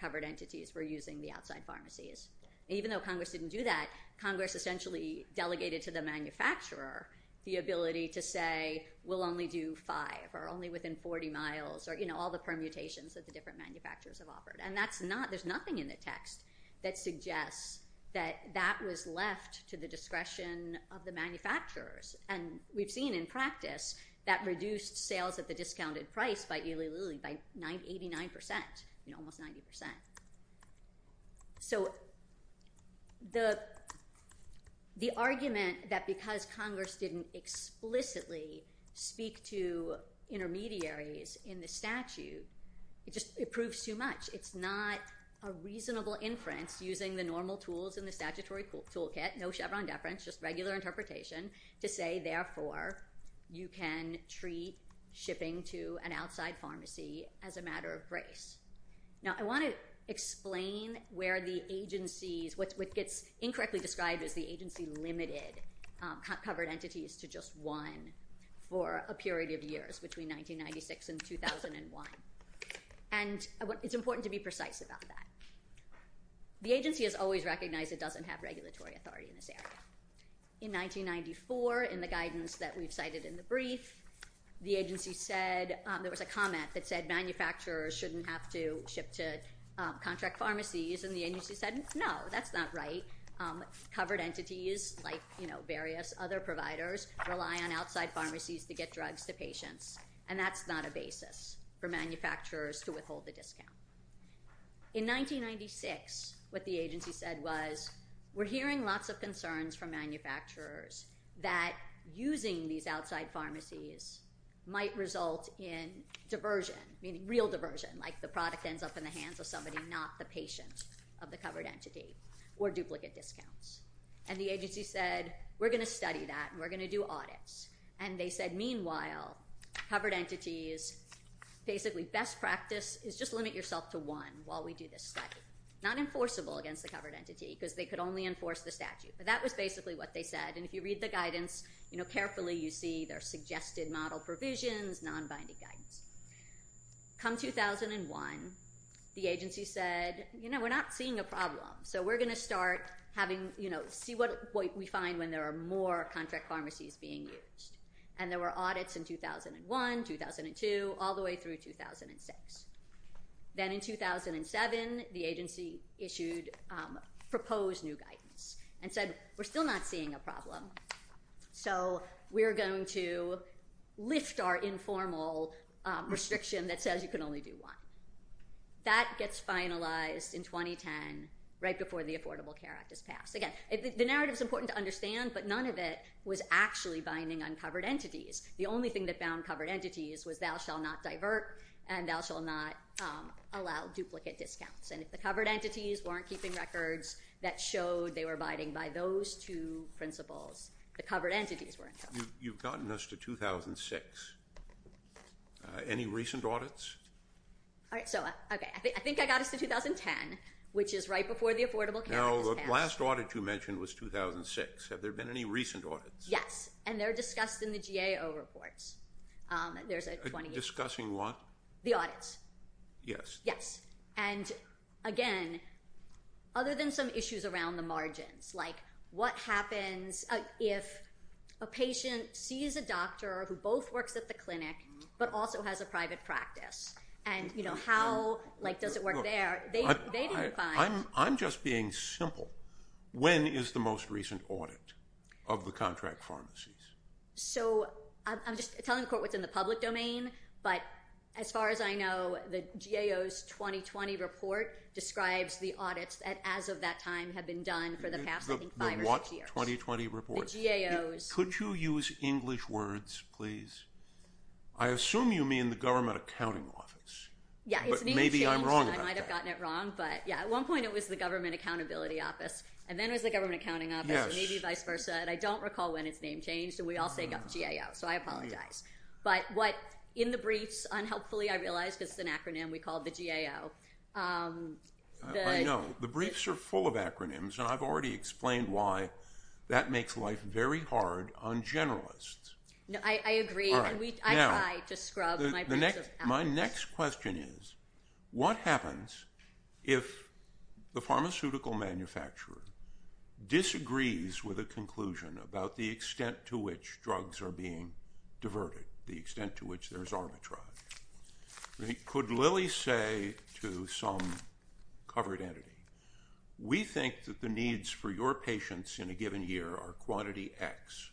covered entities were using the outside pharmacies. Even though Congress didn't do that, Congress essentially delegated to the manufacturer the ability to say we'll only do five or only within 40 miles or, you know, all the permutations that the different manufacturers have offered. And that's not – there's nothing in the text that suggests that that was left to the discretion of the manufacturers, and we've seen in practice that reduced sales at the discounted price by 89%, you know, almost 90%. So the argument that because Congress didn't explicitly speak to intermediaries in the statute, it just proves too much. It's not a reasonable inference using the normal tools in the statutory toolkit, no Chevron deference, just regular interpretation to say, therefore, you can treat shipping to an outside pharmacy as a matter of grace. Now, I want to explain where the agencies – what gets incorrectly described as the agency-limited covered entities to just one for a period of years, between 1996 and 2001. And it's important to be precise about that. The agency has always recognized it doesn't have regulatory authority in this area. In 1994, in the guidance that we've cited in the brief, the agency said – there was a comment that said manufacturers shouldn't have to ship to contract pharmacies, and the agency said, no, that's not right. Covered entities like, you know, various other providers rely on outside pharmacies to get drugs to patients, and that's not a basis for manufacturers to withhold the discount. In 1996, what the agency said was, we're hearing lots of concerns from manufacturers that using these outside pharmacies might result in diversion, meaning real diversion, like the product ends up in the hands of somebody, not the patient of the covered entity, or duplicate discounts. And the agency said, we're going to study that, and we're going to do audits. And they said, meanwhile, covered entities, basically best practice is just limit yourself to one while we do this study. Not enforceable against the covered entity, because they could only enforce the statute. But that was basically what they said, and if you read the guidance, you know, carefully, you see their suggested model provisions, non-binding guidance. Come 2001, the agency said, you know, we're not seeing a problem, so we're going to start having, you know, see what we find when there are more contract pharmacies being used. And there were audits in 2001, 2002, all the way through 2006. Then in 2007, the agency issued proposed new guidance and said, we're still not seeing a problem, so we're going to lift our informal restriction that says you can only do one. That gets finalized in 2010, right before the Affordable Care Act is passed. Again, the narrative is important to understand, but none of it was actually binding on covered entities. The only thing that bound covered entities was thou shall not divert, and thou shall not allow duplicate discounts. And if the covered entities weren't keeping records that showed they were binding by those two principles, the covered entities weren't. You've gotten us to 2006. Any recent audits? So, okay, I think I got us to 2010, which is right before the Affordable Care Act is passed. Now, the last audit you mentioned was 2006. Have there been any recent audits? Yes, and they're discussed in the GAO reports. Discussing what? The audits. Yes. Yes. And, again, other than some issues around the margins, like what happens if a patient sees a doctor who both works at the clinic but also has a private practice, and, you know, how, like, does it work there? I'm just being simple. When is the most recent audit of the contract pharmacies? So I'm just telling the court what's in the public domain, but as far as I know, the GAO's 2020 report describes the audits that, as of that time, have been done for the past, I think, five or six years. The what 2020 report? The GAO's. Could you use English words, please? I assume you mean the Government Accounting Office. Yes. But maybe I'm wrong about that. I might have gotten it wrong, but, yes, at one point it was the Government Accountability Office, and then it was the Government Accounting Office, and maybe vice versa, and I don't recall when its name changed, and we all say GAO, so I apologize. But what in the briefs, unhelpfully I realize because it's an acronym we call the GAO. I know. The briefs are full of acronyms, and I've already explained why that makes life very hard on generalists. I agree, and I try to scrub my briefs. My next question is what happens if the pharmaceutical manufacturer disagrees with a conclusion about the extent to which drugs are being diverted, the extent to which there's arbitrage? Could Lily say to some covered entity, we think that the needs for your patients in a given year are quantity X,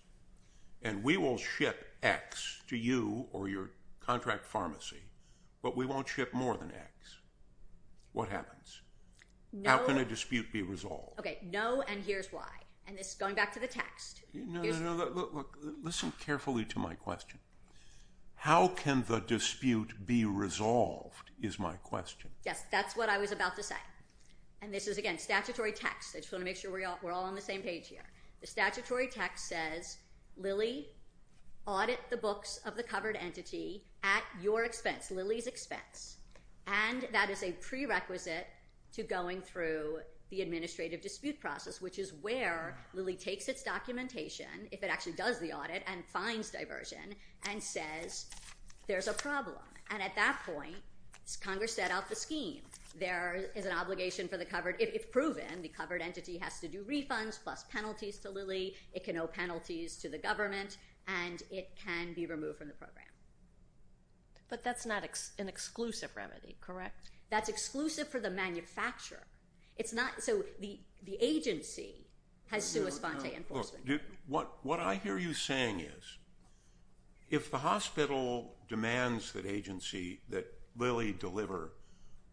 and we will ship X to you or your contract pharmacy, but we won't ship more than X. What happens? How can a dispute be resolved? Okay, no, and here's why, and this is going back to the text. No, no, no, look, listen carefully to my question. How can the dispute be resolved is my question. Yes, that's what I was about to say, and this is, again, statutory text. I just want to make sure we're all on the same page here. The statutory text says, Lily, audit the books of the covered entity at your expense, Lily's expense, and that is a prerequisite to going through the administrative dispute process, which is where Lily takes its documentation, if it actually does the audit and finds diversion, and says there's a problem, and at that point, Congress set out the scheme. There is an obligation for the covered, if proven, the covered entity has to do refunds plus penalties to Lily. It can owe penalties to the government, and it can be removed from the program. But that's not an exclusive remedy, correct? That's exclusive for the manufacturer. It's not, so the agency has sua sponte enforcement. What I hear you saying is if the hospital demands the agency that Lily deliver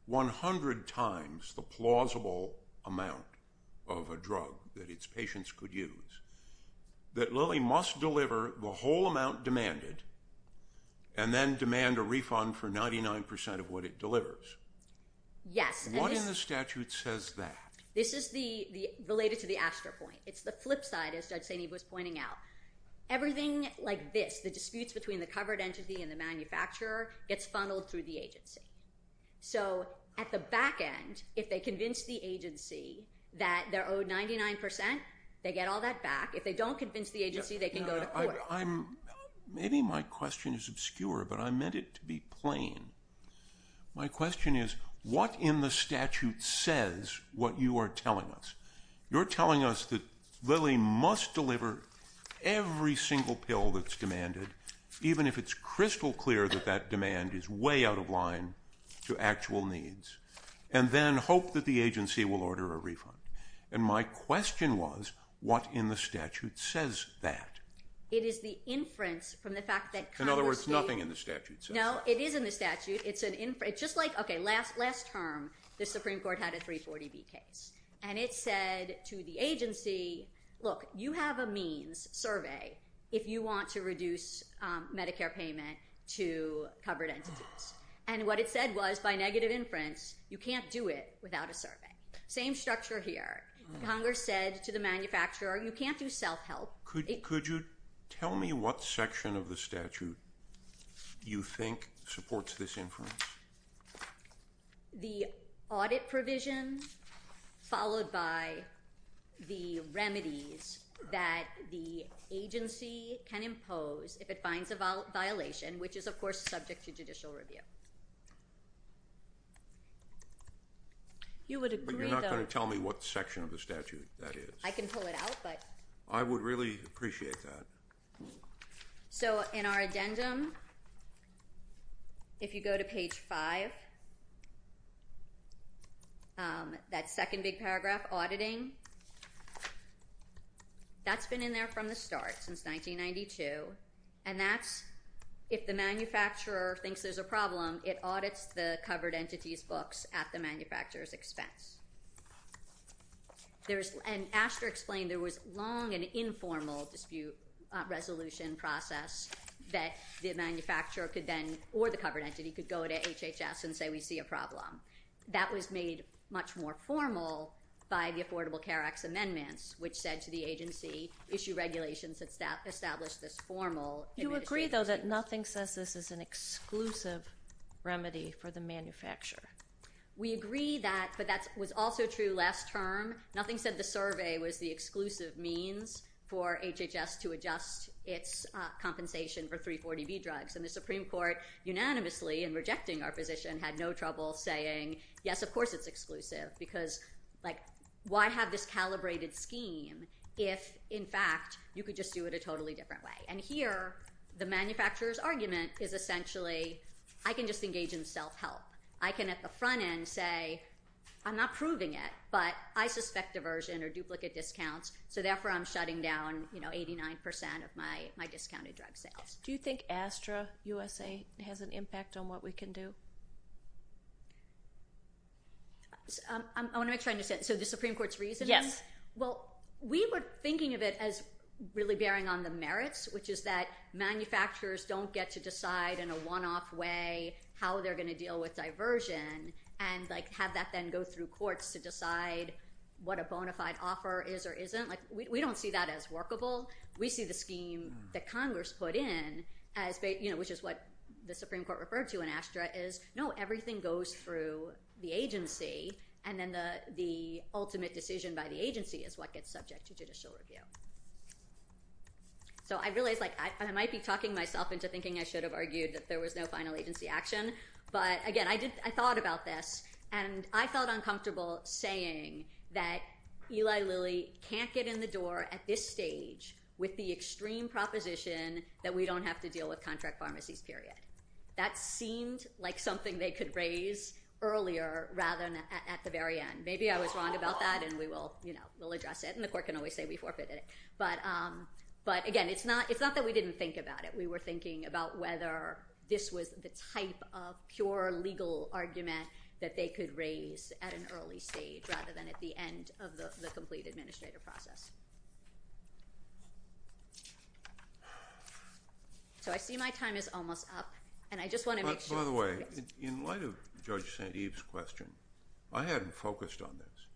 100 times the plausible amount of a drug that its patients could use, that Lily must deliver the whole amount demanded and then demand a refund for 99% of what it delivers. Yes. What in the statute says that? This is related to the aster point. It's the flip side, as Judge St. Ives was pointing out. Everything like this, the disputes between the covered entity and the manufacturer, gets funneled through the agency. So at the back end, if they convince the agency that they're owed 99%, they get all that back. If they don't convince the agency, they can go to court. Maybe my question is obscure, but I meant it to be plain. My question is what in the statute says what you are telling us? You're telling us that Lily must deliver every single pill that's demanded, even if it's crystal clear that that demand is way out of line to actual needs, and then hope that the agency will order a refund. And my question was, what in the statute says that? It is the inference from the fact that Congress gave— In other words, nothing in the statute says that. No, it is in the statute. It's just like, okay, last term, the Supreme Court had a 340B case, and it said to the agency, look, you have a means survey if you want to reduce Medicare payment to covered entities. And what it said was, by negative inference, you can't do it without a survey. Same structure here. Congress said to the manufacturer, you can't do self-help. Could you tell me what section of the statute you think supports this inference? The audit provision followed by the remedies that the agency can impose if it finds a violation, which is, of course, subject to judicial review. You would agree, though— But you're not going to tell me what section of the statute that is. I can pull it out, but— I would really appreciate that. So in our addendum, if you go to page 5, that second big paragraph, auditing, that's been in there from the start, since 1992, and that's if the manufacturer thinks there's a problem, it audits the covered entities' books at the manufacturer's expense. And Asher explained there was long and informal dispute resolution process that the manufacturer could then, or the covered entity, could go to HHS and say, we see a problem. That was made much more formal by the Affordable Care Act's amendments, which said to the agency, issue regulations that establish this formal— Do you agree, though, that nothing says this is an exclusive remedy for the manufacturer? We agree that, but that was also true last term. Nothing said the survey was the exclusive means for HHS to adjust its compensation for 340B drugs. And the Supreme Court, unanimously, in rejecting our position, had no trouble saying, yes, of course it's exclusive, because, like, why have this calibrated scheme if, in fact, you could just do it a totally different way? And here, the manufacturer's argument is essentially, I can just engage in self-help. I can, at the front end, say, I'm not proving it, but I suspect diversion or duplicate discounts, so therefore I'm shutting down, you know, 89% of my discounted drug sales. Do you think Astra USA has an impact on what we can do? I want to make sure I understand. So the Supreme Court's reasoning? Yes. Well, we were thinking of it as really bearing on the merits, which is that manufacturers don't get to decide in a one-off way how they're going to deal with diversion and, like, have that then go through courts to decide what a bona fide offer is or isn't. Like, we don't see that as workable. We see the scheme that Congress put in as, you know, which is what the Supreme Court referred to in Astra is, no, everything goes through the agency, and then the ultimate decision by the agency is what gets subject to judicial review. So I realize, like, I might be talking myself into thinking I should have argued that there was no final agency action, but, again, I thought about this, and I felt uncomfortable saying that Eli Lilly can't get in the door at this stage with the extreme proposition that we don't have to deal with contract pharmacies, period. That seemed like something they could raise earlier rather than at the very end. Maybe I was wrong about that, and we will, you know, we'll address it, and the court can always say we forfeited it. But, again, it's not that we didn't think about it. We were thinking about whether this was the type of pure legal argument that they could raise at an early stage rather than at the end of the complete administrative process. So I see my time is almost up, and I just want to make sure. By the way, in light of Judge St. Eve's question, I hadn't focused on this,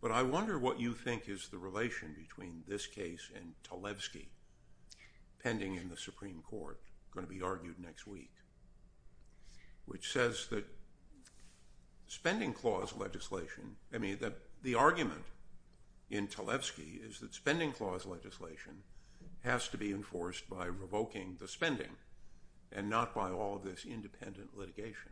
but I wonder what you think is the relation between this case and Talevsky pending in the Supreme Court, going to be argued next week, which says that spending clause legislation, I mean, that the argument in Talevsky is that spending clause legislation has to be enforced by revoking the spending and not by all of this independent litigation.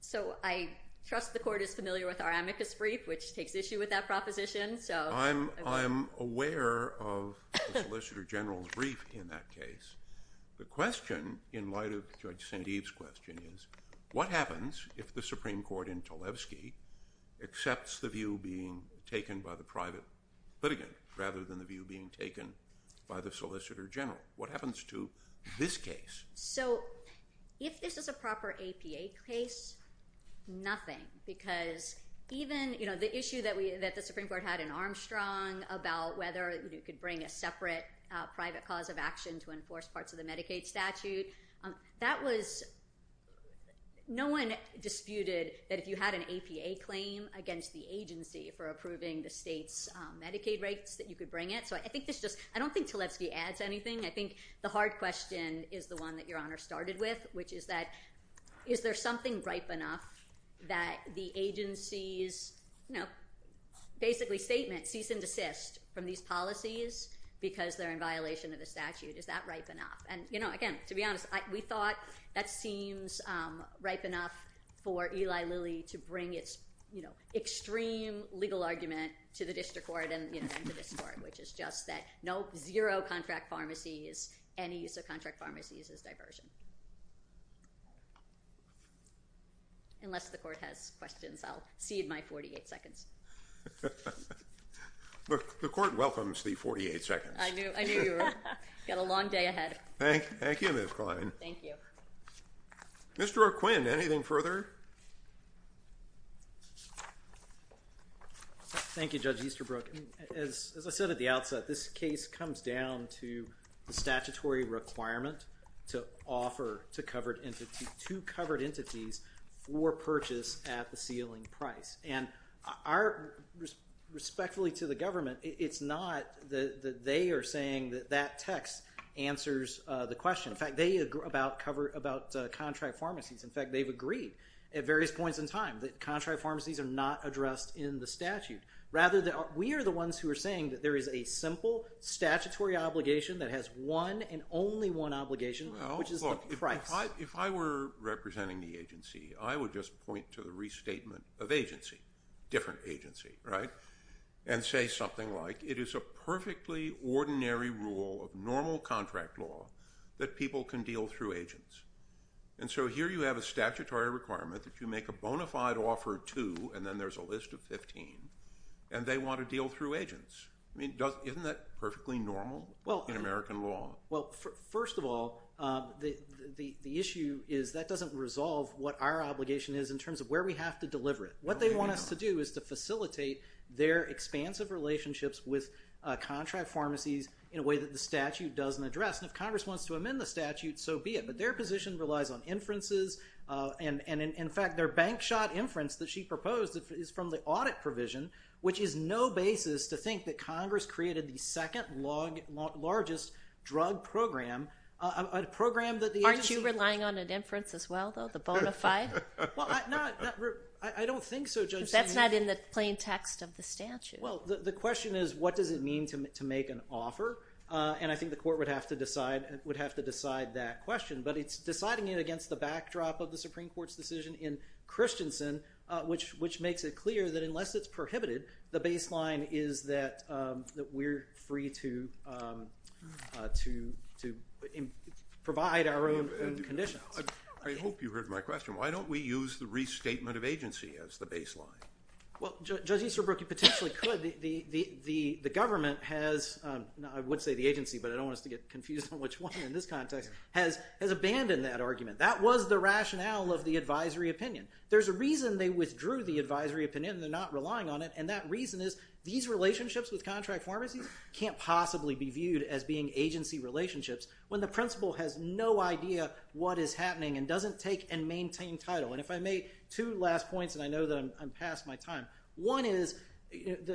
So I trust the court is familiar with our amicus brief, which takes issue with that proposition. I'm aware of the Solicitor General's brief in that case. The question in light of Judge St. Eve's question is what happens if the Supreme Court in Talevsky accepts the view being taken by the private litigant rather than the view being taken by the Solicitor General? What happens to this case? So if this is a proper APA case, nothing, because even the issue that the Supreme Court had in Armstrong about whether you could bring a separate private cause of action to enforce parts of the Medicaid statute, that was – no one disputed that if you had an APA claim against the agency for approving the state's Medicaid rates, that you could bring it. So I think this just – I don't think Talevsky adds anything. I think the hard question is the one that Your Honor started with, which is that is there something ripe enough that the agency's basically statement, cease and desist from these policies because they're in violation of the statute? Is that ripe enough? And again, to be honest, we thought that seems ripe enough for Eli Lilly to bring its extreme legal argument to the district court and to this court, which is just that no – zero contract pharmacies, any use of contract pharmacies is diversion. Unless the court has questions, I'll cede my 48 seconds. The court welcomes the 48 seconds. I knew you were – got a long day ahead. Thank you, Ms. Klein. Thank you. Mr. Arquin, anything further? Mr. Easterbrook. Thank you, Judge Easterbrook. As I said at the outset, this case comes down to the statutory requirement to offer to covered entities for purchase at the ceiling price. And our – respectfully to the government, it's not that they are saying that that text answers the question. In fact, they agree about contract pharmacies. In fact, they've agreed at various points in time that contract pharmacies are not addressed in the statute. Rather, we are the ones who are saying that there is a simple statutory obligation that has one and only one obligation, which is the price. Well, look, if I were representing the agency, I would just point to the restatement of agency, different agency, right, and say something like, it is a perfectly ordinary rule of normal contract law that people can deal through agents. And so here you have a statutory requirement that you make a bona fide offer to, and then there's a list of 15, and they want to deal through agents. I mean, isn't that perfectly normal in American law? Well, first of all, the issue is that doesn't resolve what our obligation is in terms of where we have to deliver it. What they want us to do is to facilitate their expansive relationships with contract pharmacies in a way that the statute doesn't address. And if Congress wants to amend the statute, so be it. But their position relies on inferences. And, in fact, their bank shot inference that she proposed is from the audit provision, which is no basis to think that Congress created the second largest drug program, a program that the agency Aren't you relying on an inference as well, though, the bona fide? Well, no, I don't think so. Because that's not in the plain text of the statute. Well, the question is, what does it mean to make an offer? And I think the court would have to decide that question. But it's deciding it against the backdrop of the Supreme Court's decision in Christensen, which makes it clear that unless it's prohibited, the baseline is that we're free to provide our own conditions. I hope you heard my question. Why don't we use the restatement of agency as the baseline? Well, Judge Easterbrook, you potentially could. The government has, I would say the agency, but I don't want us to get confused on which one in this context, has abandoned that argument. That was the rationale of the advisory opinion. There's a reason they withdrew the advisory opinion. They're not relying on it. And that reason is these relationships with contract pharmacies can't possibly be viewed as being agency relationships when the principal has no idea what is happening and doesn't take and maintain title. And if I may, two last points, and I know that I'm past my time. One is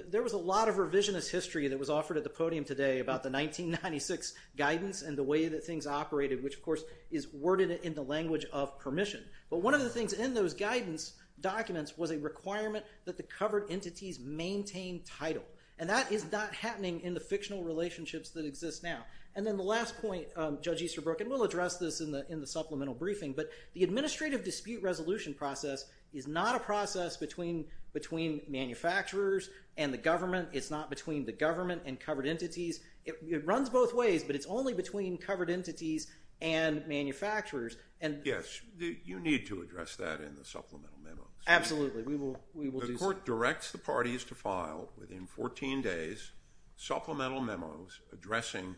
there was a lot of revisionist history that was offered at the podium today about the 1996 guidance and the way that things operated, which, of course, is worded in the language of permission. But one of the things in those guidance documents was a requirement that the covered entities maintain title. And that is not happening in the fictional relationships that exist now. And then the last point, Judge Easterbrook, and we'll address this in the supplemental briefing, but the administrative dispute resolution process is not a process between manufacturers and the government. It's not between the government and covered entities. It runs both ways, but it's only between covered entities and manufacturers. Yes, you need to address that in the supplemental memos. Absolutely. The court directs the parties to file, within 14 days, supplemental memos addressing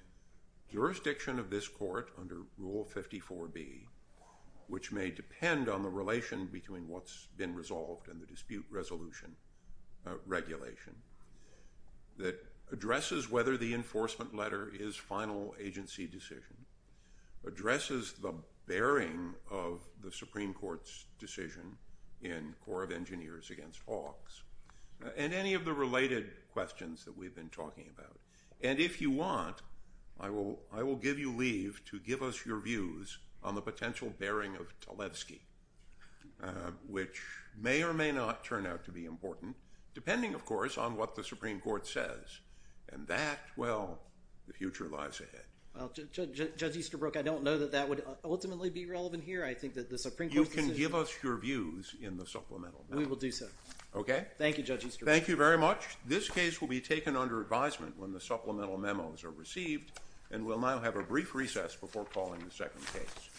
jurisdiction of this court under Rule 54B, which may depend on the relation between what's been resolved and the dispute resolution regulation, that addresses whether the enforcement letter is final agency decision, addresses the bearing of the Supreme Court's decision in Corps of Engineers against Hawks, and any of the related questions that we've been talking about. And if you want, I will give you leave to give us your views on the potential bearing of Talevsky, which may or may not turn out to be important, depending, of course, on what the Supreme Court says. And that, well, the future lies ahead. Well, Judge Easterbrook, I don't know that that would ultimately be relevant here. I think that the Supreme Court's decision— You can give us your views in the supplemental memos. We will do so. Okay. Thank you, Judge Easterbrook. Thank you very much. This case will be taken under advisement when the supplemental memos are received, and we'll now have a brief recess before calling the second case.